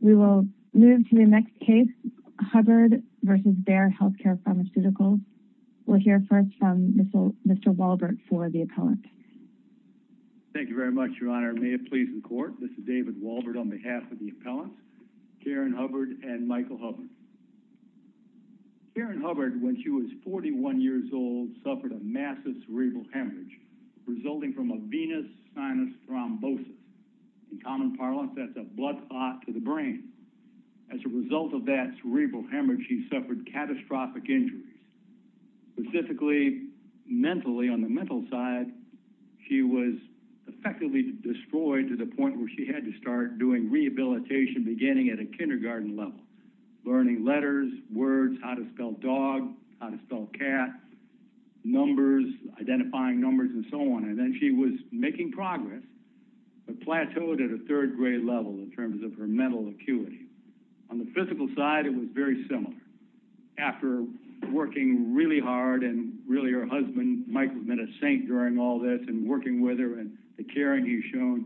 We will move to the next case, Hubbard v. Bayer Healthcare Pharmaceutical. We'll hear first from Mr. Walbert for the appellant. Thank you very much, Your Honor. May it please the court. This is David Walbert on behalf of the appellants, Karen Hubbard and Michael Hubbard. Karen Hubbard, when she was 41 years old, suffered a massive cerebral hemorrhage resulting from a venous sinus thrombosis. In common parlance, that's a blood clot to the brain. As a result of that cerebral hemorrhage, she suffered catastrophic injuries. Specifically, mentally, on the mental side, she was effectively destroyed to the point where she had to start doing rehabilitation, beginning at a kindergarten level, learning letters, words, how to spell dog, how to spell cat, numbers, identifying numbers, and so on. And then she was making progress, but plateaued at a third grade level in terms of her mental acuity. On the physical side, it was very similar. After working really hard, and really her husband, Mike, has been a saint during all this, and working with her and the caring he's shown,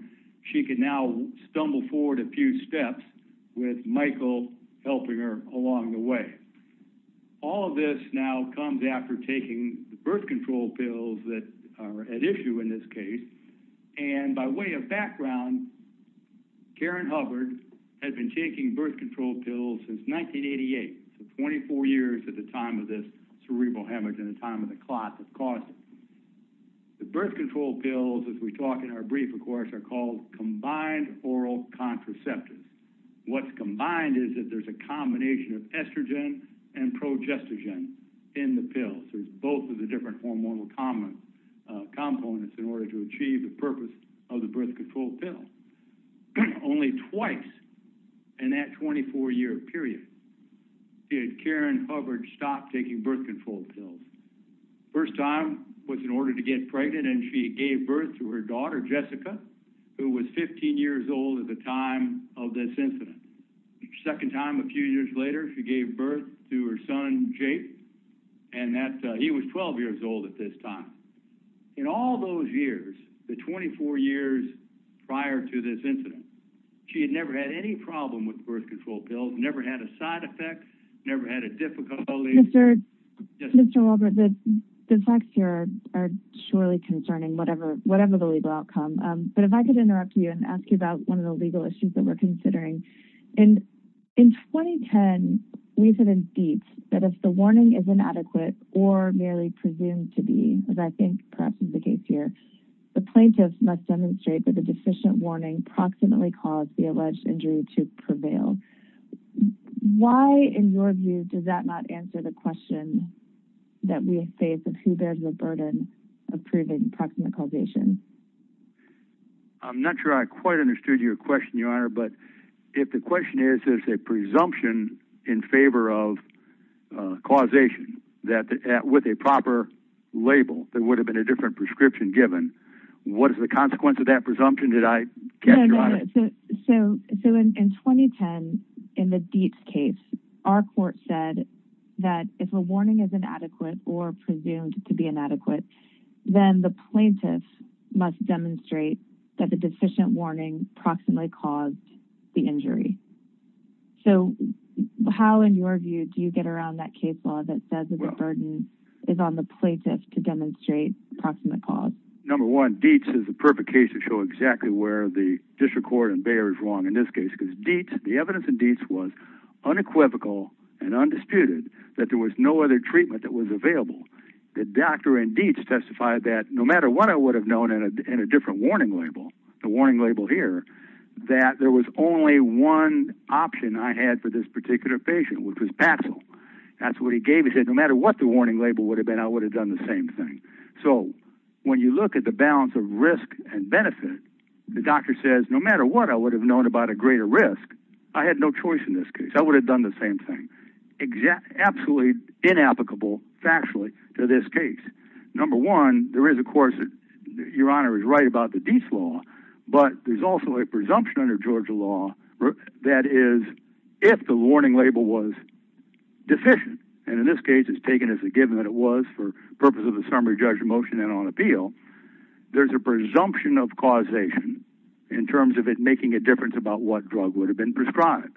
she could now stumble forward a few steps with Michael helping her along the way. All of this now comes after taking the birth control pills that are at issue in this case. And by way of background, Karen Hubbard had been taking birth control pills since 1988, so 24 years at the time of this cerebral hemorrhage and the time of the clot that caused it. The birth control pills, as we talk in our brief, of course, are called combined oral contraceptives. What's combined is that there's a combination of estrogen and progestogen in the pills. There's both of the different hormonal components in order to achieve the purpose of the birth control pill. Only twice in that 24-year period did Karen Hubbard stop taking birth control pills. First time was in order to get pregnant, and she gave birth to her daughter, Jessica, who was 15 years old at the time of this incident. Second time, a few years later, she gave birth to her son, Jake, and he was 12 years old at this time. In all those years, the 24 years prior to this incident, she had never had any problem with birth control pills, never had a side effect, never had a difficulty. Yes. Mr. Wolbert, the facts here are surely concerning, whatever the legal outcome, but if I could interrupt you and ask you about one of the legal issues that we're considering. In 2010, we've had a deep that if the warning is inadequate or merely presumed to be, as I think perhaps is the case here, the plaintiff must demonstrate that the deficient warning proximately caused the alleged injury to prevail. Why, in your view, does that not answer the question that we face of who bears the burden of proving proximate causation? I'm not sure I quite understood your question, Your Honor, but if the question is, there's a presumption in favor of causation with a proper label, there would have been a different prescription given. What is the consequence of that presumption? Did I catch you on it? No. In 2010, in the Dietz case, our court said that if a warning is inadequate or presumed to be inadequate, then the plaintiff must demonstrate that the deficient warning proximately caused the injury. How, in your view, do you get around that case law that says that the burden is on the plaintiff to demonstrate proximate cause? Number one, Dietz is the perfect case to show exactly where the district court and Bayer is wrong in this case, because the evidence in Dietz was unequivocal and undisputed, that there was no other treatment that was available. The doctor in Dietz testified that, no matter what I would have known in a different warning label, the warning label here, that there was only one option I had for this particular patient, which was Paxil. That's what he gave me. He said, no matter what the warning label would have been, I would have done the same thing. So when you look at the balance of risk and benefit, the doctor says, no matter what I would have known about a greater risk, I had no choice in this case. I would have done the same thing. Absolutely inapplicable, factually, to this case. Number one, there is, of course, your Honor is right about the Dietz law, but there's also a presumption under Georgia law that is, if the warning label was deficient, and in this case, it's taken as a given that it was, purpose of the summary judge motion and on appeal, there's a presumption of causation in terms of it making a difference about what drug would have been prescribed.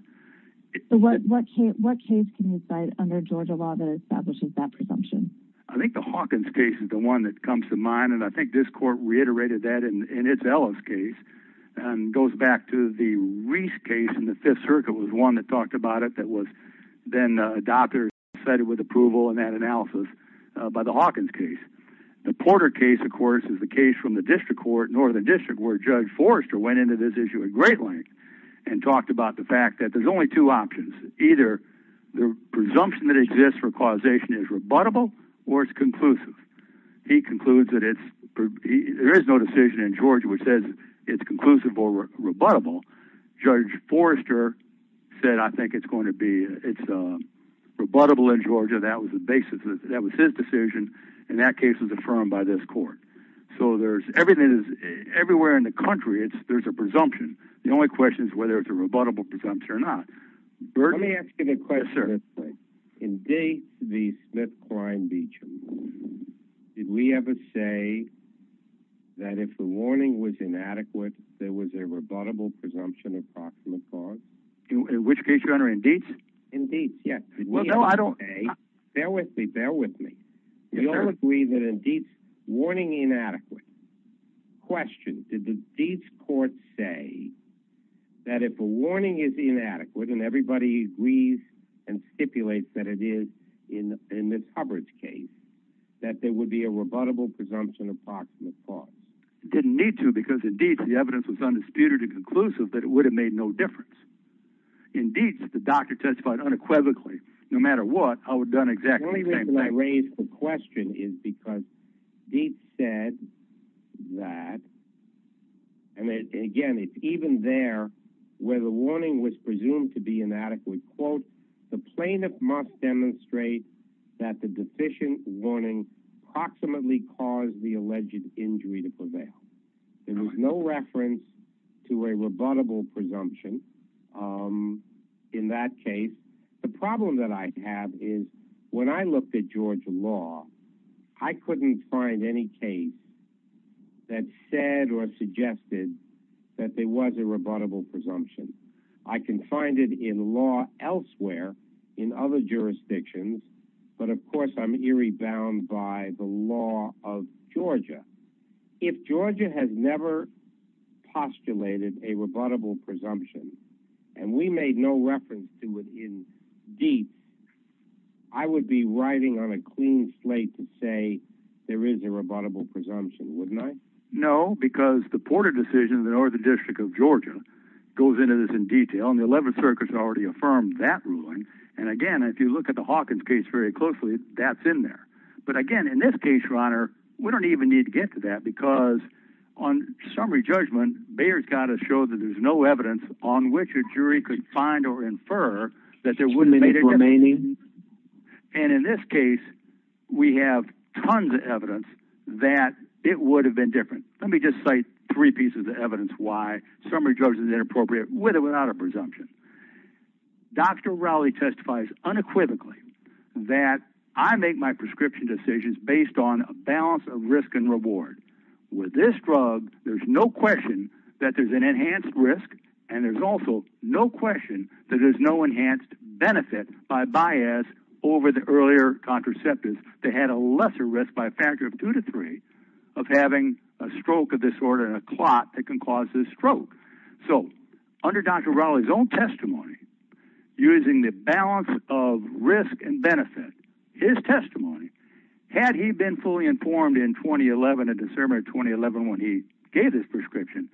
What case can you cite under Georgia law that establishes that presumption? I think the Hawkins case is the one that comes to mind, and I think this court reiterated that in its Ellis case, and goes back to the Reese case in the Fifth Circuit was one that talked about it, then a doctor said it with approval in that analysis by the Hawkins case. The Porter case, of course, is the case from the district court, Northern District, where Judge Forrester went into this issue at great length and talked about the fact that there's only two options, either the presumption that exists for causation is rebuttable or it's conclusive. He concludes that there is no decision in Georgia which says it's conclusive or rebuttable. Judge Forrester said, I think it's going to be, it's rebuttable in Georgia. That was the basis. That was his decision, and that case was affirmed by this court. Everywhere in the country, there's a presumption. The only question is whether it's a rebuttable presumption or not. Let me ask you a question. Yes, sir. In the Smith-Klein-Beecham case, did we ever say that if the warning was inadequate, there was a rebuttable presumption of proximate cause? In which case, your honor, in Deet's? In Deet's, yes. Well, no, I don't... Okay. Bear with me. Bear with me. Yes, sir. We all agree that in Deet's, warning inadequate. Question, did the Deet's court say that if a warning is inadequate and everybody agrees and stipulates that it is in the Hubbard's case, that there would be a rebuttable presumption of proximate cause? It didn't need to because in Deet's, the evidence was undisputed and conclusive that it would have made no difference. In Deet's, the doctor testified unequivocally. No matter what, I would have done exactly the same thing. The only reason I raise the question is because Deet's said that, and again, it's even there where the warning was presumed to be inadequate. Quote, the plaintiff must demonstrate that the sufficient warning proximately caused the alleged injury to prevail. There was no reference to a rebuttable presumption in that case. The problem that I have is when I looked at Georgia law, I couldn't find any case that said or suggested that there was a rebuttable presumption. I can find it in law elsewhere in other jurisdictions, but of course, I'm eerie bound by the law of Georgia. If Georgia has never postulated a rebuttable presumption, and we made no reference to it in Deet's, I would be riding on a clean slate to say there is a rebuttable presumption, wouldn't I? No, because the Porter decision in the Northern District of Georgia goes into this in detail, and the 11th Circuit has already affirmed that ruling. Again, if you look at the Hawkins case very closely, that's in there. Again, in this case, your honor, we don't even need to get to that because on summary judgment, Bayer's got to show that there's no evidence on which a jury could find or infer that there wouldn't have been a rebuttal. In this case, we have tons of evidence that it would have been different. Let me just cite three pieces of evidence why summary judgment is inappropriate with or without a presumption. Dr. Rowley testifies unequivocally that I make my prescription decisions based on a balance of risk and reward. With this drug, there's no question that there's an enhanced risk, and there's also no question that there's no enhanced benefit by Bayer's over the earlier contraceptives. They had a lesser risk by a factor of two to three of having a stroke of this order and a clot that can cause this stroke. Under Dr. Rowley's own testimony, using the balance of risk and benefit, his testimony, had he been fully informed in 2011, in December 2011, when he gave his prescription,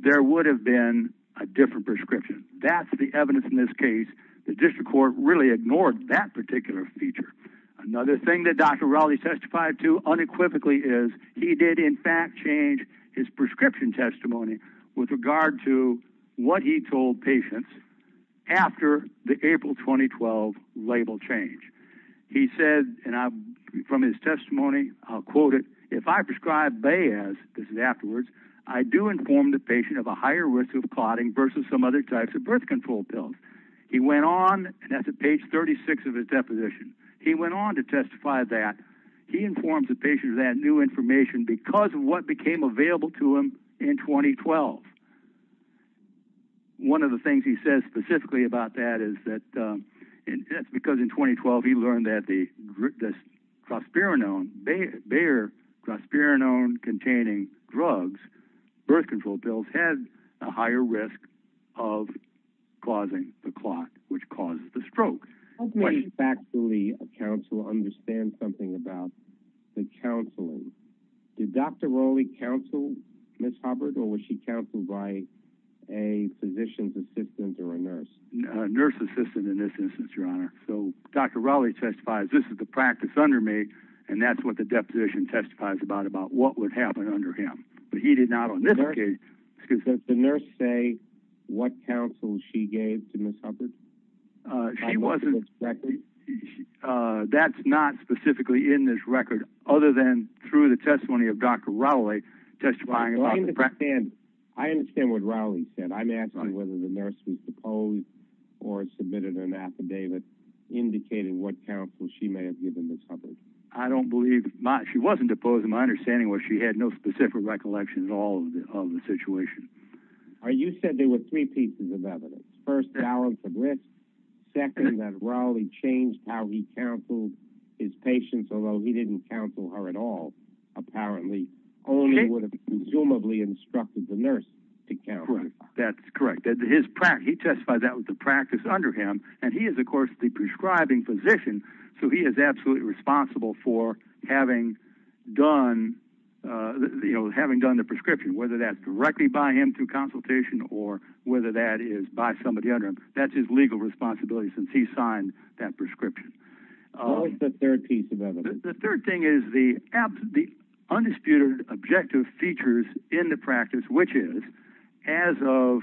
there would have been a different prescription. That's the evidence in this case. The district court really ignored that particular feature. Another thing that Dr. Rowley testified to unequivocally is he did, in fact, change his prescription testimony with regard to what he told patients after the April 2012 label change. He said, from his testimony, I'll quote it, if I prescribe Bayer's, this is afterwards, I do inform the patient of a higher risk of clotting versus some other types of birth control pills. He went on, and that's at page 36 of his deposition, he went on to testify that he informed the patient of that new information because of what became available to him in 2012. One of the things he says specifically about that is that, because in 2012 he learned that Prosperinone, Bayer Prosperinone-containing drugs, birth control pills, had a higher risk of causing the clot, which causes the stroke. Let me back to the counsel, understand something about the counseling. Did Dr. Rowley counsel Ms. Hubbard, or was she counseled by a physician's assistant or a nurse? Nurse's assistant in this instance, Your Honor. Dr. Rowley testifies, this is the practice under me, and that's what the deposition testifies about, about what would happen under him. Did the nurse say what counsel she gave to Ms. Hubbard? That's not specifically in this record other than through the testimony of Dr. Rowley testifying about the practice. I understand what Rowley said. I'm asking whether the nurse was deposed or submitted an affidavit indicating what counsel she may have given Ms. Hubbard. I don't believe. She wasn't deposed. My understanding was she had no specific recollection at all of the situation. You said there were three pieces of evidence. First, balance of risk. Second, that Rowley changed how he counseled his patients, although he didn't counsel her at all, apparently only would have consumably instructed the nurse to counsel. That's correct. He testified that was the practice under him, and he is, of course, the prescribing physician, so he is absolutely responsible for having done the prescription, whether that's directly by him through consultation or whether that is by somebody under him. That's his legal responsibility since he signed that prescription. What was the third piece of evidence? The third thing is the undisputed objective features in the practice, which is, as of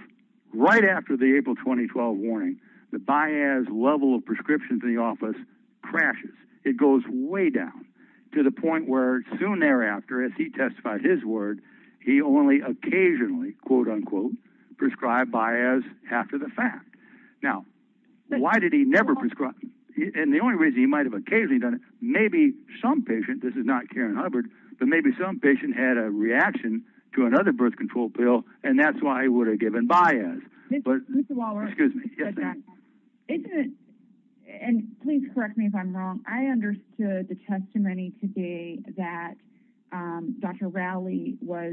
right after the April 2012 warning, the BIAS level of prescriptions in the office crashes. It goes way down to the point where soon thereafter, as he testified his word, he only occasionally, quote, unquote, prescribed BIAS after the fact. Now, why did he never prescribe? The only reason he might have occasionally done it, maybe some patient—this is not Karen Hubbard—but maybe some patient had a reaction to another birth control pill, and that's why he would have given BIAS. Mr. Waller, isn't it—and please correct me if I'm wrong—I understood the testimony today that Dr. Rowley was—he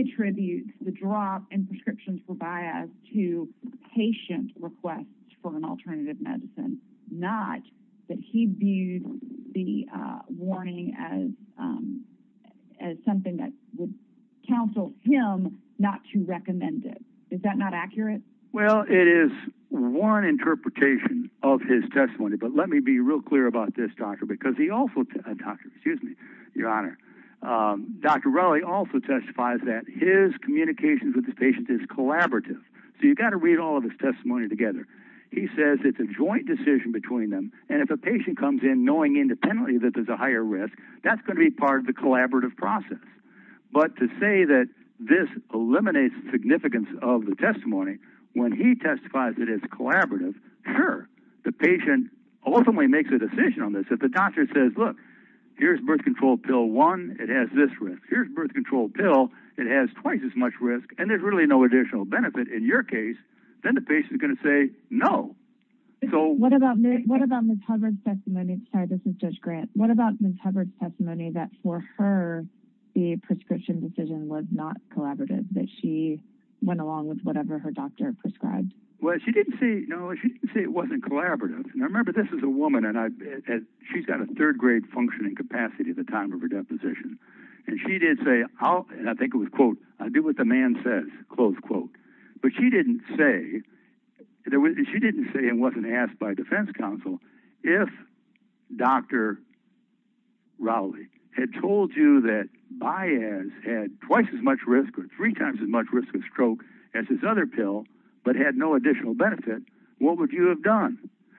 attributes the drop in prescriptions for BIAS to patient requests for an alternative medicine, not that he viewed the warning as something that would counsel him not to recommend it. Is that not accurate? Well, it is one interpretation of his testimony, but let me be real clear about this, Doctor, because he also—Doctor, excuse me, Your Honor—Dr. Rowley also testifies that his says it's a joint decision between them, and if a patient comes in knowing independently that there's a higher risk, that's going to be part of the collaborative process. But to say that this eliminates the significance of the testimony when he testifies that it's collaborative, sure, the patient ultimately makes a decision on this. If the doctor says, look, here's birth control pill one, it has this risk. Here's birth control pill, it has twice as much risk, and there's really no additional benefit in your case, then the patient is going to say, no. What about Ms. Hubbard's testimony—I'm sorry, this is Judge Grant—what about Ms. Hubbard's testimony that for her, the prescription decision was not collaborative, that she went along with whatever her doctor prescribed? Well, she didn't say it wasn't collaborative. Now, remember, this is a woman, and she's got a third-grade functioning capacity at the time of her deposition, and she did say—and I think it says—but she didn't say it wasn't asked by defense counsel, if Dr. Rowley had told you that Baez had twice as much risk or three times as much risk of stroke as his other pill but had no additional benefit, what would you have done?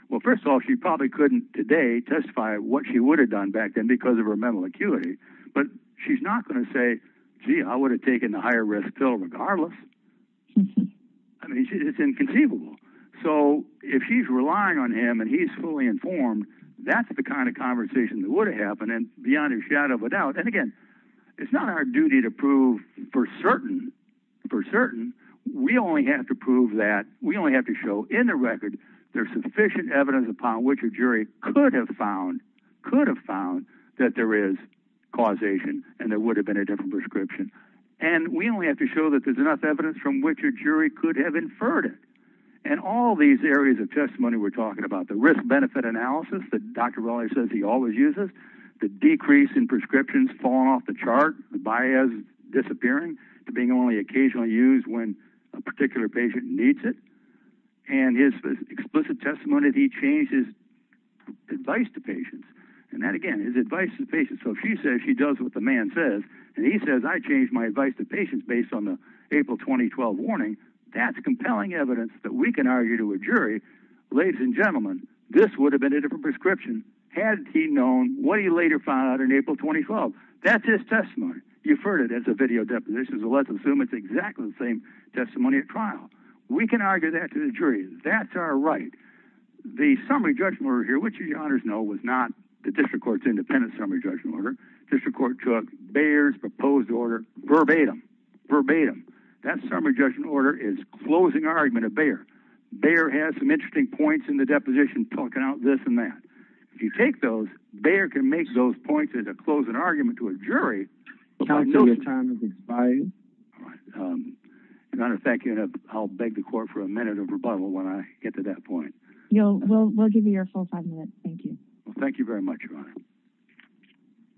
Well, first of all, she probably couldn't today testify what she would have done back then because of her mental acuity, but she's not going to say, gee, I would have taken the higher-risk pill regardless. I mean, it's inconceivable. If she's relying on him and he's fully informed, that's the kind of conversation that would have happened, and beyond a shadow of a doubt—and again, it's not our duty to prove for certain. We only have to prove that—we only have to show in the record there's sufficient evidence upon which a jury could have found that there is causation and there would have been a different prescription, and we only have to show that there's enough evidence from which a jury could have inferred it. All these areas of testimony we're talking about, the risk-benefit analysis that Dr. Rowley says he always uses, the decrease in prescriptions falling off the chart, Baez disappearing to being only occasionally used when a particular patient needs it, and his explicit testimony that he changed his advice to patients—and that, again, so if she says she does what the man says and he says, I changed my advice to patients based on the April 2012 warning, that's compelling evidence that we can argue to a jury, ladies and gentlemen, this would have been a different prescription had he known what he later found out in April 2012. That's his testimony. You've heard it as a video deposition, so let's assume it's exactly the same testimony at trial. We can argue that to the jury. That's right. The summary judgment order here, which you, your honors, know was not the district court's independent summary judgment order. District court took Baer's proposed order verbatim. That summary judgment order is closing argument of Baer. Baer has some interesting points in the deposition talking out this and that. If you take those, Baer can make those points as a closing argument to a jury. I'll beg the court for a minute of rebuttal when I get to that point. We'll give you your full five minutes. Thank you. Thank you very much, your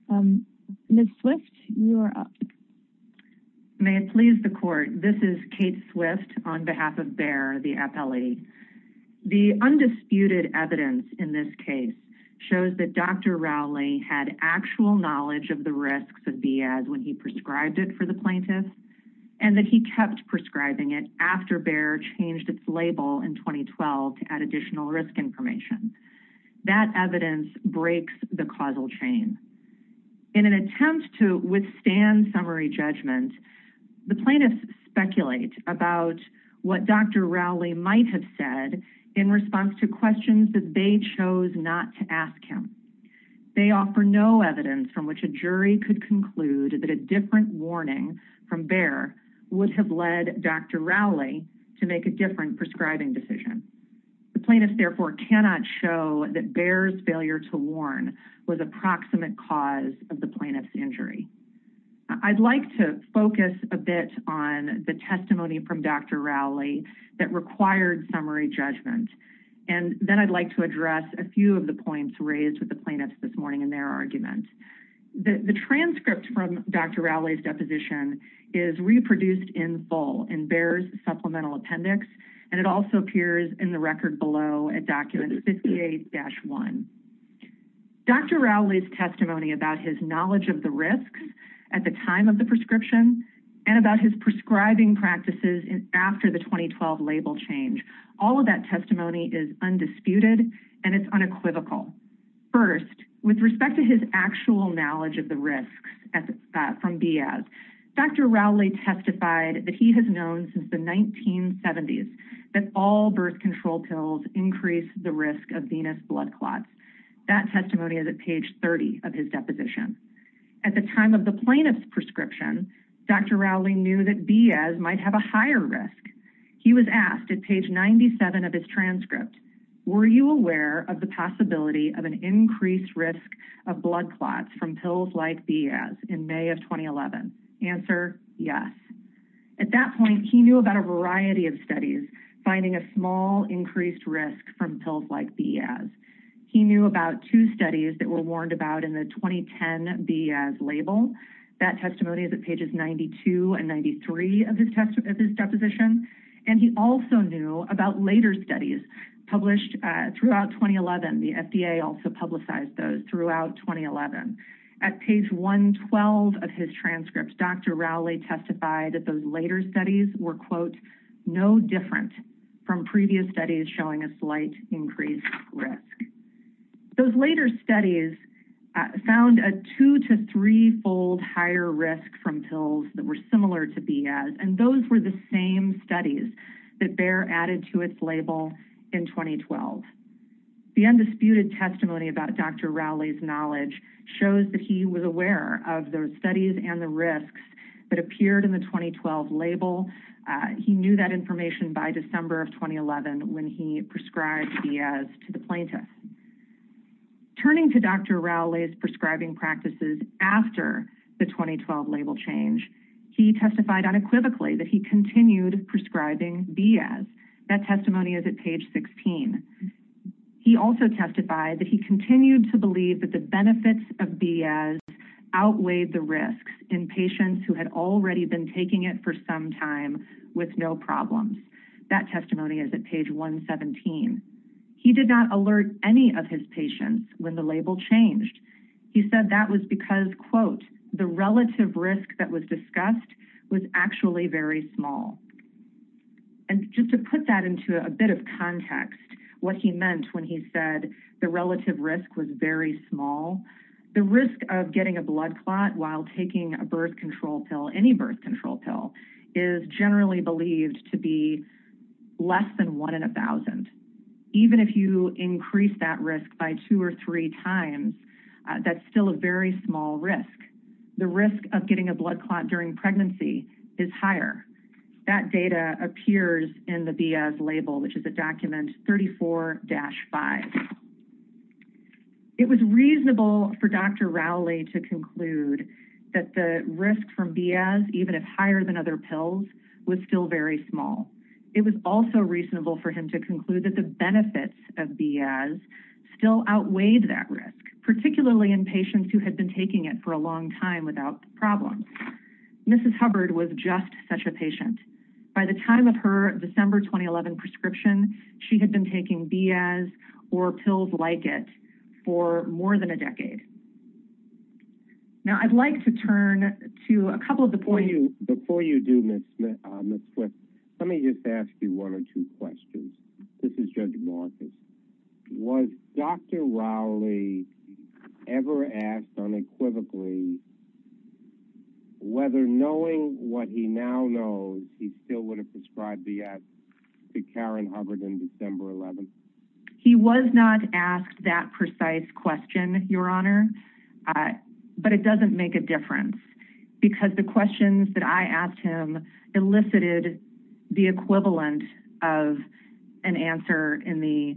honor. Ms. Swift, you are up. May it please the court, this is Kate Swift on behalf of Baer, the appellee. The undisputed evidence in this case shows that Dr. Rowley had actual knowledge of the risks of VA as when he prescribed it for the plaintiff and that he kept prescribing it after Baer changed its label in 2012 to add additional risk information. That evidence breaks the causal chain. In an attempt to withstand summary judgment, the plaintiffs speculate about what Dr. Rowley might have said in response to questions that they chose not to ask him. They offer no evidence from which a jury could conclude that a different warning from Baer would have led Dr. Rowley to make a different prescribing decision. The plaintiffs therefore cannot show that Baer's failure to warn was a proximate cause of the plaintiff's injury. I'd like to focus a bit on the testimony from Dr. Rowley that required summary judgment and then I'd like to address a few of the points raised with the plaintiffs this morning in their argument. The transcript from Dr. Rowley's deposition is reproduced in full in Baer's supplemental appendix and it also appears in the record below at document 58-1. Dr. Rowley's testimony about his knowledge of the risks at the time of the prescription and about his prescribing practices after the 2012 label change, all of that testimony is undisputed and it's unequivocal. First, with from Baer, Dr. Rowley testified that he has known since the 1970s that all birth control pills increase the risk of venous blood clots. That testimony is at page 30 of his deposition. At the time of the plaintiff's prescription, Dr. Rowley knew that Baer might have a higher risk. He was asked at page 97 of his transcript, were you aware of the possibility of an increased risk of blood clots from pills like Baer's in May of 2011? Answer, yes. At that point, he knew about a variety of studies finding a small increased risk from pills like Baer's. He knew about two studies that were warned about in the 2010 Baer's label. That testimony is at pages 92 and 93 of his deposition and he also knew about later studies published throughout 2011. The FDA also publicized those throughout 2011. At page 112 of his transcript, Dr. Rowley testified that those later studies were, quote, no different from previous studies showing a slight increased risk. Those later studies found a two to three-fold higher risk from pills that were similar to Baer's and those were the same studies that Baer added to its label in 2012. The undisputed testimony about Dr. Rowley's knowledge shows that he was aware of those studies and the risks that appeared in the 2012 label. He knew that information by December of 2011 when he prescribed Baer's to the plaintiff. Turning to Dr. Rowley's prescribing practices after the 2012 label change, he testified unequivocally that he continued prescribing Baer's. That testimony is at page 16. He also testified that he continued to believe that the benefits of Baer's outweighed the risks in patients who had already been taking it for some time with no problems. That testimony is at page 117. He did not alert any of his patients when the label changed. He said that was because, quote, the relative risk that was discussed was actually very small. And just to put that into a bit of context, what he meant when he said the relative risk was very small, the risk of getting a blood clot while taking a birth control pill, any birth control pill, is generally believed to be less than one in a thousand. Even if you increase that risk by two or three times, that's still a very small risk. The risk of getting a blood clot during pregnancy is higher. That data appears in the Baer's label, which is at document 34-5. It was reasonable for Dr. Rowley to conclude that the risk from Baer's, even if higher than other pills, was still very small. It was also reasonable for him to conclude that the benefits of Baer's still outweighed that risk, particularly in patients who had been taking it for a long time without problems. Mrs. Hubbard was just such a patient. By the time of her December 2011 prescription, she had been taking Baer's or pills like it for more than a decade. Now, I'd like to turn to a couple of the points. Before you do, Ms. Swift, let me just ask you one or two questions. This is Judge Marcus. Was Dr. Rowley ever asked unequivocally whether, knowing what he now knows, he still would have prescribed Baer's to Karen Hubbard in December 2011? He was not asked that precise question, Your Honor, but it doesn't make a difference because the questions that I asked him elicited the equivalent of an answer in the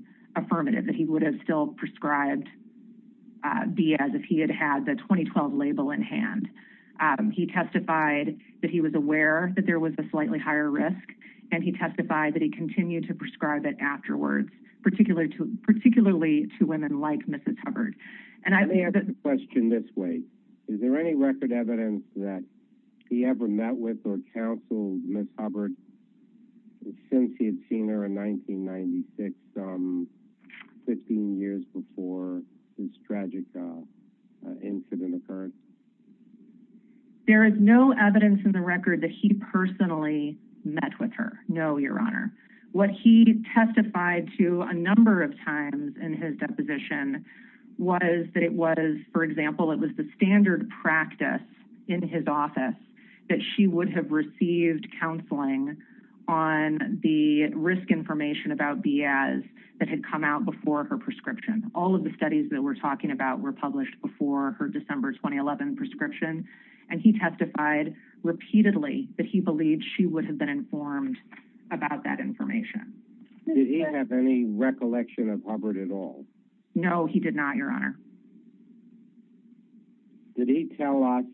hand. He testified that he was aware that there was a slightly higher risk, and he testified that he continued to prescribe it afterwards, particularly to women like Mrs. Hubbard. Let me ask a question this way. Is there any record evidence that he ever met with or counseled Ms. Hubbard since he had seen her in 1996, 15 years before this tragic incident occurred? There is no evidence in the record that he personally met with her, no, Your Honor. What he testified to a number of times in his deposition was that it was, for example, it was the standard practice in his office that she would have received counseling on the risk information about Baer's that had come out before her prescription. All of the published before her December 2011 prescription, and he testified repeatedly that he believed she would have been informed about that information. Did he have any recollection of Hubbard at all? No, he did not, Your Honor. Did he tell us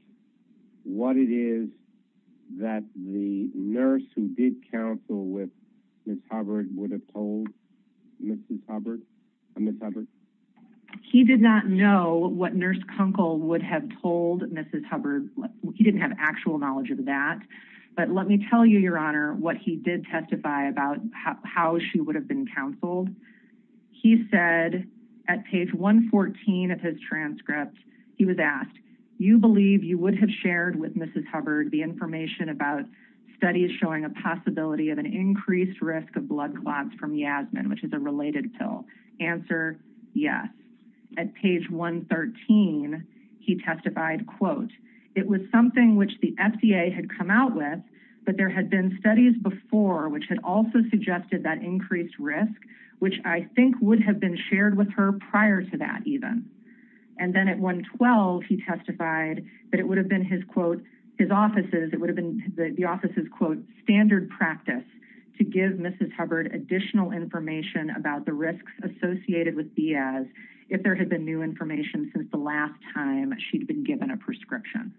what it is that the nurse who did counsel with Mrs. Hubbard? He did not know what Nurse Kunkel would have told Mrs. Hubbard. He didn't have actual knowledge of that, but let me tell you, Your Honor, what he did testify about how she would have been counseled. He said at page 114 of his transcript, he was asked, you believe you would have shared with Mrs. Hubbard the information about studies showing a possibility of an increased risk of blood clots from Yasmin, which is a related pill. Answer, yes. At page 113, he testified, quote, it was something which the FDA had come out with, but there had been studies before which had also suggested that increased risk, which I think would have been shared with her prior to that even. And then at 112, he testified that it would have been his, quote, his office's, it would have been the office's, quote, standard practice to give Mrs. Hubbard additional information about the risks associated with Diaz if there had been new information since the last time she'd been given a prescription.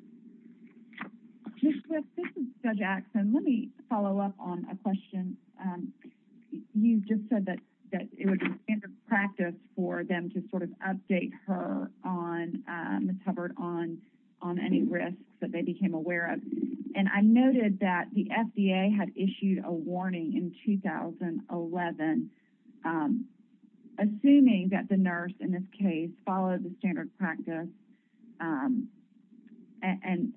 This is Judge Axson. Let me follow up on a question. You just said that it would be standard for them to sort of update her on Mrs. Hubbard on any risks that they became aware of. And I noted that the FDA had issued a warning in 2011, assuming that the nurse, in this case, followed the standard practice and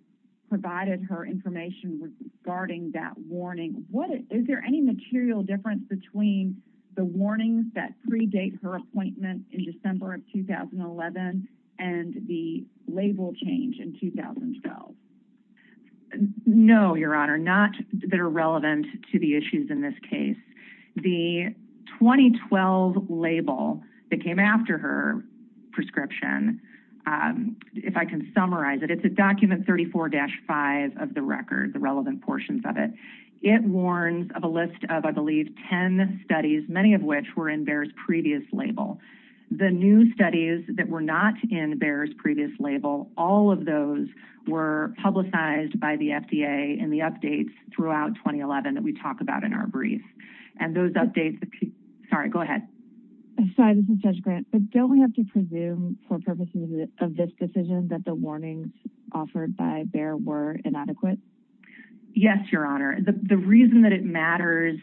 provided her information regarding that warning. Is there any material difference between the warnings that predate her appointment in December of 2011 and the label change in 2012? No, Your Honor, not that are relevant to the issues in this case. The 2012 label that came after her prescription, if I can summarize it, it's a document 34-5 of the record, the relevant portions of it. It warns of a list of, I believe, 10 studies, many of which were in Bayer's previous label. The new studies that were not in Bayer's previous label, all of those were publicized by the FDA in the updates throughout 2011 that we talk about in our brief. And those updates, sorry, go ahead. I'm sorry, this is Judge Grant, but don't we have to presume for purposes of this decision that the warnings offered by Bayer were inadequate? Yes, Your Honor. The reason that it matters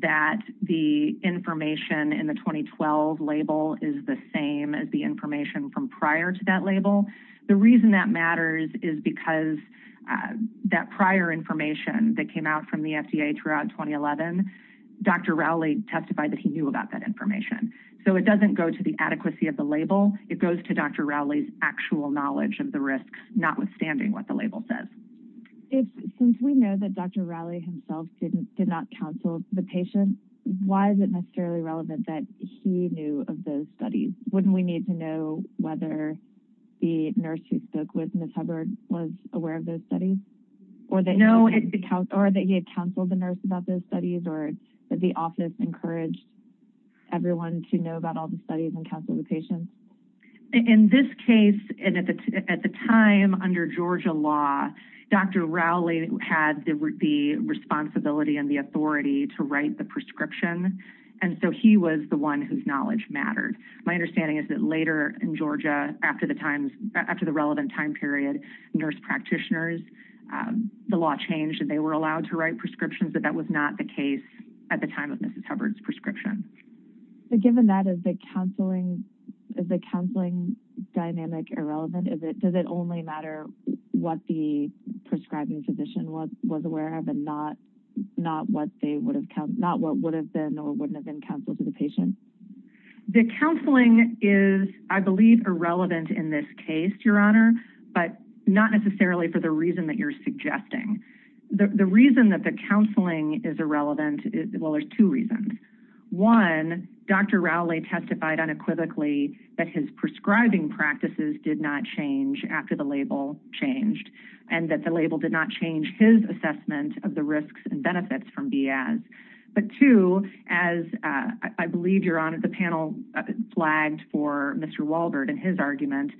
that the information in the 2012 label is the same as the information from prior to that label, the reason that matters is because that prior information that came out from the FDA throughout 2011, Dr. Rowley testified that he knew about that information. So it doesn't go to the adequacy of the label. It goes to Dr. Rowley's actual knowledge of the risks, notwithstanding what the label says. Since we know that Dr. Rowley himself did not counsel the patient, why is it necessarily relevant that he knew of those studies? Wouldn't we need to know whether the nurse who spoke with Ms. Hubbard was aware of those studies? Or that he had counseled the nurse about those studies? Or did the office encourage everyone to know about all the studies and counsel the patient? In this case, at the time under Georgia law, Dr. Rowley had the responsibility and the authority to write the prescription, and so he was the one whose knowledge mattered. My understanding is that later in Georgia, after the relevant time period, nurse practitioners, the law changed, and they were allowed to write prescriptions, but that was not the case at the time of Mrs. Hubbard. Is the counseling dynamic irrelevant? Does it only matter what the prescribing physician was aware of and not what would have been or wouldn't have been counseled to the patient? The counseling is, I believe, irrelevant in this case, Your Honor, but not necessarily for the reason that you're suggesting. The reason that the counseling is irrelevant, well, there's two reasons. One, Dr. Rowley testified unequivocally that his prescribing practices did not change after the label changed, and that the label did not change his assessment of the risks and benefits from BIAS. But two, as I believe, Your Honor, the panel flagged for Mr. Walbert in his argument,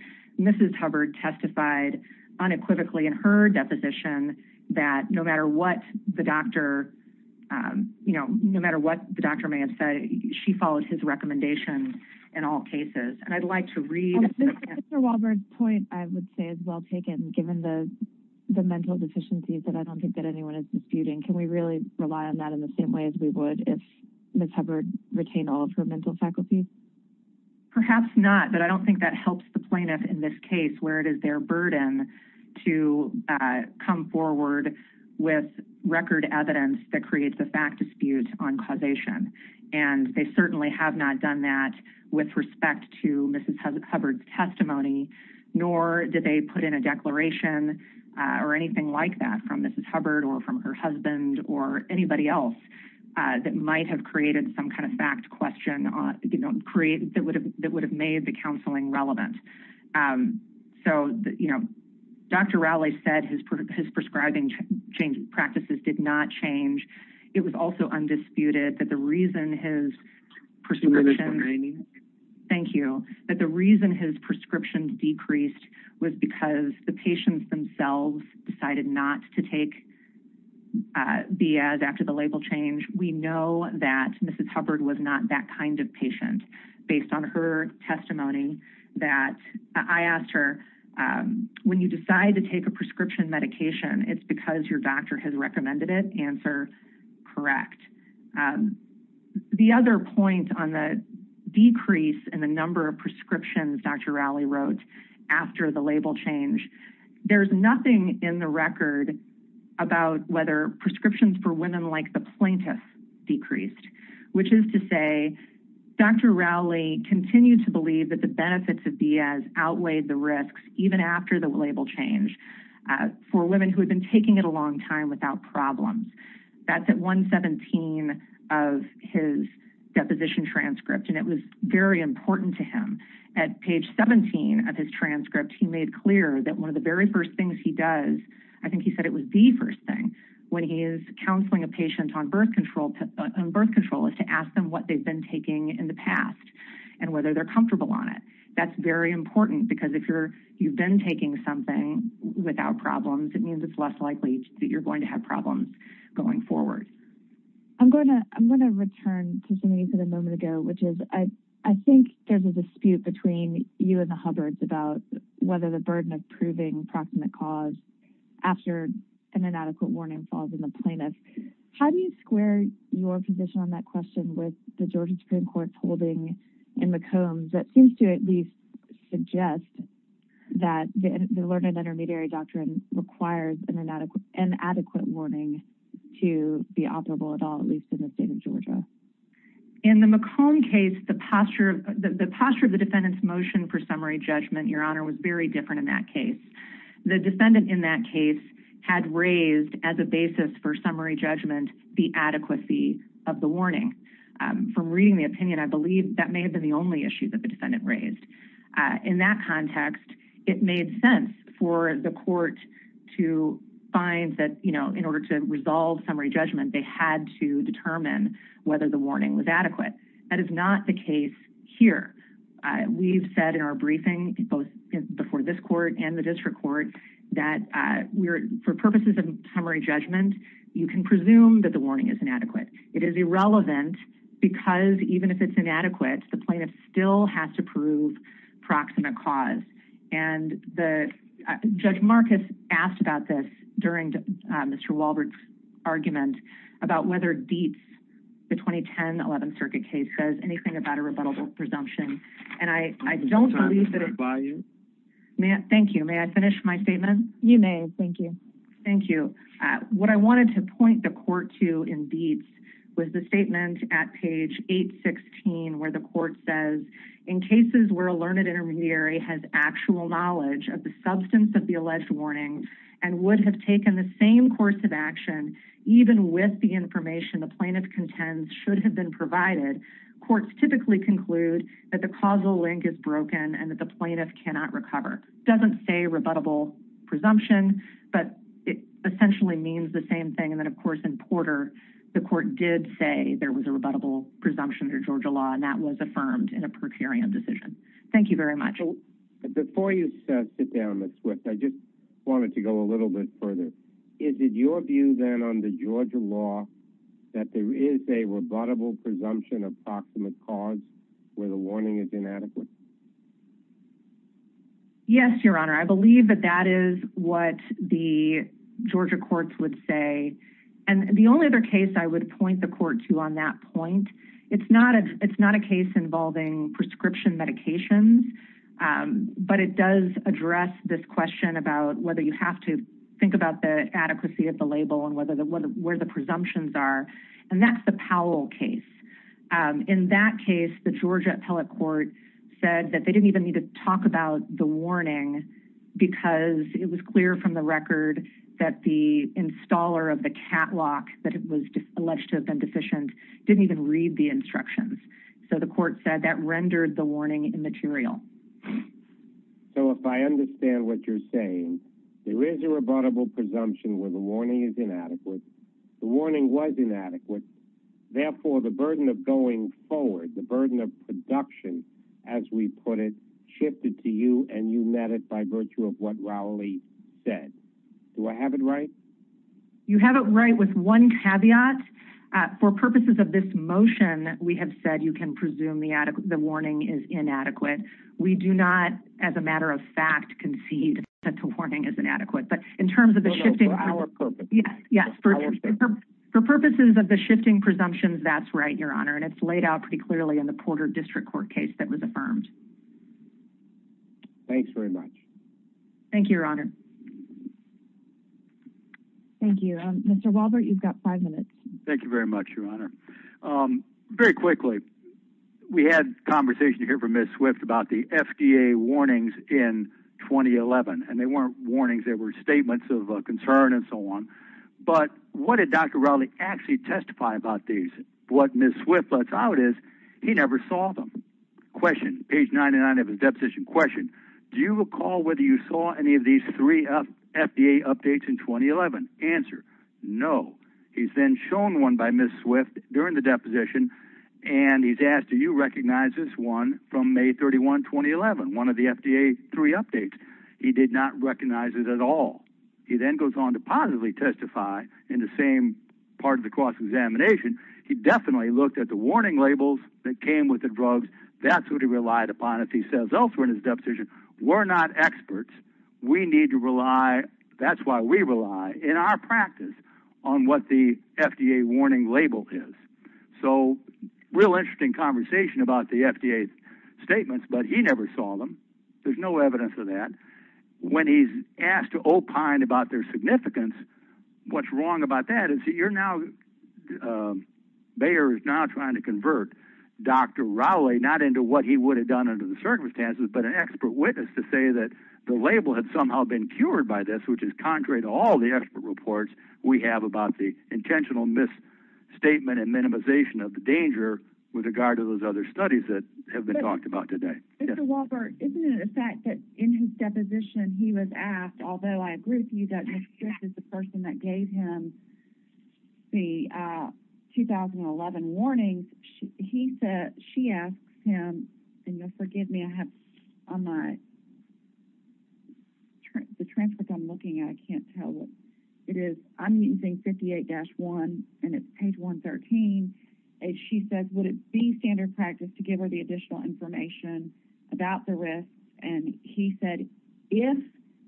Mrs. Hubbard testified unequivocally in her deposition that no matter what the doctor, you know, no matter what the doctor may have said, she followed his recommendations in all cases. And I'd like to read— Oh, Mr. Walbert's point, I would say, is well taken, given the mental deficiencies that I don't think that anyone is disputing. Can we really rely on that in the same way as we would if Ms. Hubbard retained all of her mental faculties? Perhaps not, but I don't think that helps the plaintiff in this case, where it is their burden to come forward with record evidence that creates a fact dispute on causation, and they certainly have not done that with respect to Mrs. Hubbard's testimony, nor did they put in a declaration or anything like that from Mrs. Hubbard or from her husband or anybody else that might have created some kind of fact question that would have made the doctor—Dr. Rowley said his prescribing practices did not change. It was also undisputed that the reason his prescriptions— I'm sorry, Ms. Walbert, I didn't hear you. Thank you. That the reason his prescriptions decreased was because the patients themselves decided not to take B.S. after the label change. We know that Mrs. Hubbard was not that kind of person. When you decide to take a prescription medication, it's because your doctor has recommended it. Answer, correct. The other point on the decrease in the number of prescriptions Dr. Rowley wrote after the label change, there's nothing in the record about whether prescriptions for women like the plaintiff decreased, which is to say Dr. Rowley continued to believe that benefits of B.S. outweighed the risks even after the label change for women who had been taking it a long time without problems. That's at 117 of his deposition transcript, and it was very important to him. At page 17 of his transcript, he made clear that one of the very first things he does—I think he said it was the first thing when he is counseling a patient on birth control—is to ask what they've been taking in the past and whether they're comfortable on it. That's very important because if you've been taking something without problems, it means it's less likely that you're going to have problems going forward. I'm going to return to something you said a moment ago, which is I think there's a dispute between you and the Hubbards about whether the burden of proving proximate cause after an inadequate warning falls on the plaintiff. How do you square your position on that question with the Georgia Supreme Court's holding in McCombs that seems to at least suggest that the learned intermediary doctrine requires an inadequate warning to be operable at all, at least in the state of Georgia? In the McCombs case, the posture of the defendant's motion for summary judgment, Your Honor, was very different in that case. The defendant in that case had raised as a basis for summary judgment the adequacy of the warning. From reading the opinion, I believe that may have been the only issue that the defendant raised. In that context, it made sense for the court to find that in order to resolve summary judgment, they had to determine whether the warning was adequate. That is not the case here. We've said in our briefing, both before this court and the district court, that for purposes of summary judgment, you can presume that the warning is inadequate. It is irrelevant because even if it's inadequate, the plaintiff still has to prove proximate cause. Judge Marcus asked about this during Mr. Wahlberg's argument about whether Dietz, the 2010 11th Circuit case, says anything about a rebuttable presumption. Thank you. May I finish my statement? You may. Thank you. What I wanted to point the court to in Dietz was the statement at page 816 where the court says, in cases where a learned intermediary has actual knowledge of the substance of the alleged warning and would have taken the same course of action, even with the information the plaintiff contends should have been provided, courts typically conclude that the causal link is broken and the plaintiff cannot recover. It doesn't say rebuttable presumption, but it essentially means the same thing. Of course, in Porter, the court did say there was a rebuttable presumption under Georgia law, and that was affirmed in a per curiam decision. Thank you very much. Before you sit down, Ms. Swift, I just wanted to go a little bit further. Is it your view, then, under Georgia law that there is a rebuttable presumption of proximate cause where the warning is inadequate? Yes, Your Honor. I believe that that is what the Georgia courts would say. The only other case I would point the court to on that point, it's not a case involving prescription medications, but it does address this question about whether you have to think about the adequacy of the label and where the presumptions are. That's the Powell case. In that case, the Georgia appellate court said that they didn't even need to talk about the warning because it was clear from the record that the installer of the catwalk that was alleged to have been deficient didn't even read the instructions. The court said that rendered the warning immaterial. So, if I understand what you're saying, there is a rebuttable presumption where the warning is inadequate. The warning was inadequate. Therefore, the burden of going forward, the burden of production, as we put it, shifted to you, and you met it by virtue of what Rowley said. Do I have it right? You have it right with one caveat. For purposes of this motion, we have said you can presume the warning is inadequate. We do not, as a matter of fact, concede that the warning is inadequate. For purposes of the shifting presumptions, that's right, Your Honor. It's laid out pretty clearly in the Porter District Court case that was affirmed. Thanks very much. Thank you, Your Honor. Thank you. Mr. Walbert, you've got five minutes. Thank you very much, Your Honor. Very quickly, we had a conversation here from Ms. Swift about the FDA warnings in 2011, and they weren't warnings. They were statements of concern and so on. But what did Dr. Rowley actually testify about these? What Ms. Swift lets out is he never saw them. Question. Page 99 of his deposition. Question. Do you recall whether you saw any of these three FDA updates in 2011? Answer. No. He's then shown one by Ms. Swift during the deposition, and he's asked, do you recognize this one from May 31, 2011, one of the FDA three updates? He did not recognize it at all. He then goes on to positively testify in the same part of the cross-examination. He definitely looked at the warning labels that came with the drugs. That's what he relied upon if he says elsewhere in his deposition. We're not experts. We need to rely, that's why we rely in our practice on what the FDA warning label is. Real interesting conversation about the FDA statements, but he never saw them. There's no evidence of that. When he's asked to opine about their significance, what's wrong about that is you're now, Bayer is now trying to convert Dr. Rowley, not into what he would have done under the circumstances, but an expert witness to say that the label had somehow been cured by this, which is contrary to all the expert reports we have about the intentional misstatement and minimization of the danger with regard to those other studies that have been talked about today. Mr. Walker, isn't it a fact that in his deposition he was asked, although I agree with you that Ms. Swift is the person that gave him the 2011 warnings, he said she asked him, and you'll forgive me, I have on my, the transcript I'm looking at, I can't tell what it is, I'm using 58-1 and it's page 113, and she says would it be standard practice to give her the additional information about the risk, and he said if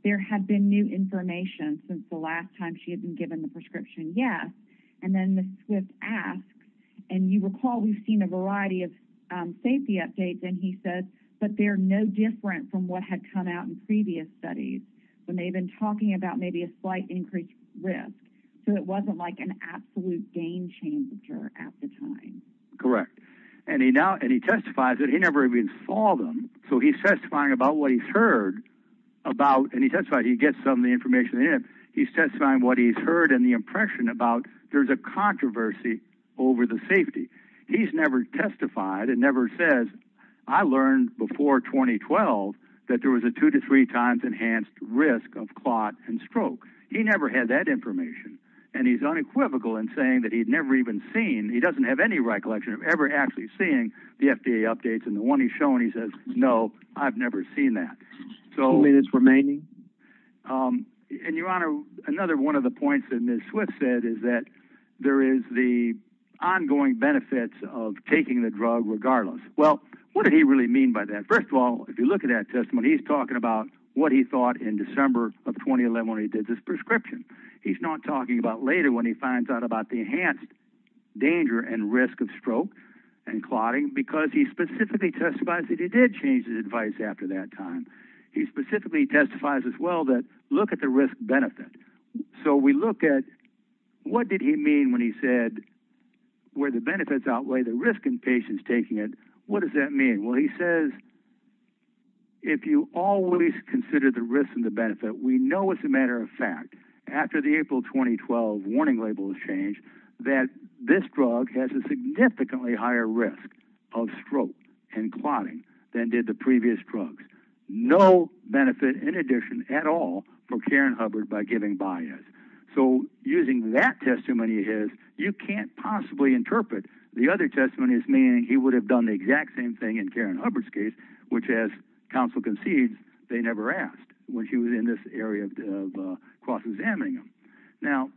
there had been new information since the last time she had given the prescription, yes, and then Ms. Swift asks, and you recall we've seen a variety of safety updates, and he says but they're no different from what had come out in previous studies when they've been talking about maybe a slight increased risk, so it wasn't like an absolute game changer at the time. Correct, and he now, and he testifies that he never even saw them, so he's testifying about what he's heard about, and he testifies, he gets some of the heard and the impression about there's a controversy over the safety. He's never testified, and never says I learned before 2012 that there was a two to three times enhanced risk of clot and stroke. He never had that information, and he's unequivocal in saying that he'd never even seen, he doesn't have any recollection of ever actually seeing the FDA updates, and the one he's says, no, I've never seen that. Only that's remaining? And your honor, another one of the points that Ms. Swift said is that there is the ongoing benefits of taking the drug regardless. Well, what did he really mean by that? First of all, if you look at that testimony, he's talking about what he thought in December of 2011 when he did this prescription. He's not talking about later when he finds out about the enhanced danger and risk of stroke and clotting, because he specifically testifies that he did change his advice after that time. He specifically testifies as well that look at the risk benefit. So we look at what did he mean when he said where the benefits outweigh the risk in patients taking it, what does that mean? Well, he says if you always consider the risk and the benefit, we know as a matter of fact, after the April 2012 warning labels change, that this drug has a significantly higher risk of stroke and clotting than did the previous drugs. No benefit in addition at all for Karen Hubbard by giving bias. So using that testimony of his, you can't possibly interpret the other testimony as meaning he would have done the exact same thing in Karen Hubbard's case, which as counsel concedes, they never asked when she was in this area of cross-examining him. Now...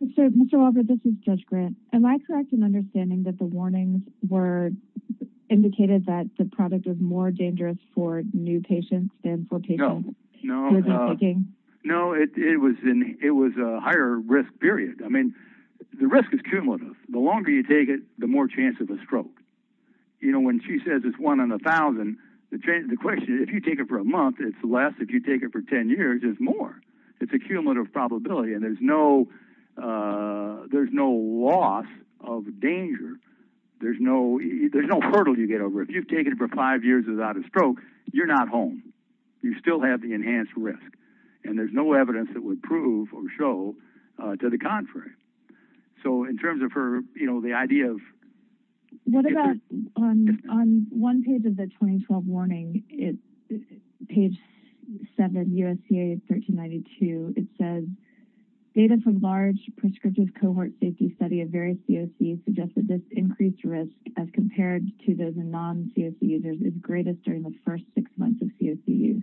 Mr. Walbert, this is Judge Grant. Am I correct in understanding that the warnings were indicated that the product was more dangerous for new patients than for patients... No, no. ...who were taking? No, it was a higher risk period. I mean, the risk is cumulative. The longer you take it, the more chance of a stroke. You know, when she says it's one in a thousand, the question is, if you take it for a month, it's less. If you take it for 10 years, it's more. It's a cumulative probability and there's no loss of danger. There's no hurdle you get over. If you've taken it for five years without a stroke, you're not home. You still have the enhanced risk and there's no evidence that would prove or show to the contrary. So in terms of her, you know, the idea of... What about on one page of the 2012 warning, page 7, USCA 1392, it says, data from large prescriptive cohort safety study of various COCs suggests that this increased risk as compared to those in non-COC users is greatest during the first six months of COC use.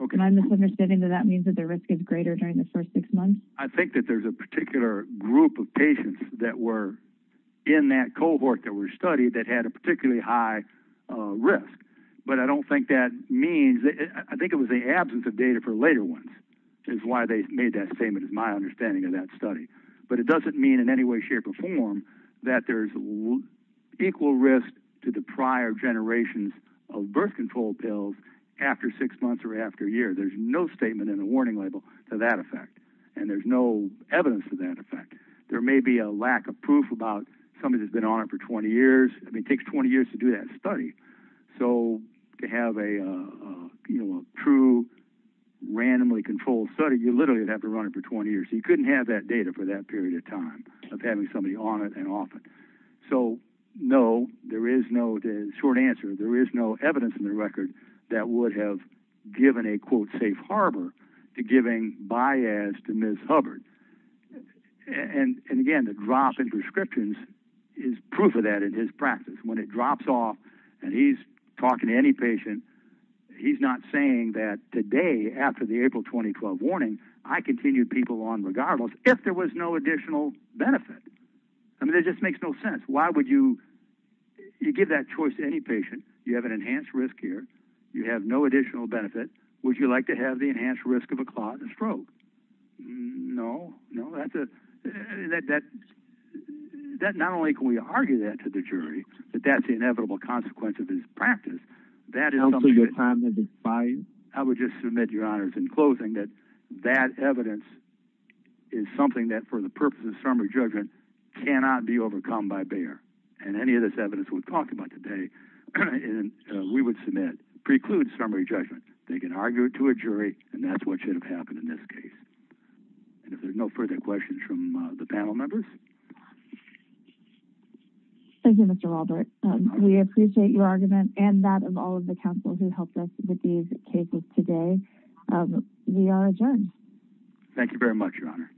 Okay. And I'm misunderstanding that that means that the risk is greater during the first six months? I think that there's a particular group of patients that were in that cohort that were studied that had a particularly high risk. But I don't think that means... I think it was the absence of data for later ones is why they made that statement is my understanding of that study. But it doesn't mean in any way, shape or form that there's equal risk to the prior generations of birth control pills after six months or after a year. There's no statement in the warning label to that effect. And there's no evidence to that effect. There may be a lack of proof about somebody that's been on it for 20 years. I mean, it takes 20 years to do that study. So to have a true, randomly controlled study, you literally would have to run it for 20 years. You couldn't have that data for that period of time of having somebody on it and off it. So no, there is no short answer. There is no evidence in the record that would have given a, quote, safe harbor to giving biads to Ms. Hubbard. And again, the drop in prescriptions is proof of that in his practice. When it drops off and he's talking to any patient, he's not saying that today after the April 2012 warning, I continued people on regardless if there was no additional benefit. I mean, it just makes no sense. You give that choice to any patient. You have an enhanced risk here. You have no additional benefit. Would you like to have the enhanced risk of a clot and a stroke? No. Not only can we argue that to the jury, but that's the inevitable consequence of his practice. I would just submit, Your Honors, in closing that that evidence is something that for the and any of this evidence we've talked about today, we would submit precludes summary judgment. They can argue it to a jury and that's what should have happened in this case. And if there's no further questions from the panel members. Thank you, Mr. Robert. We appreciate your argument and that of all of the counsel who helped us with these cases today. We are adjourned. Thank you very much, Your Honor.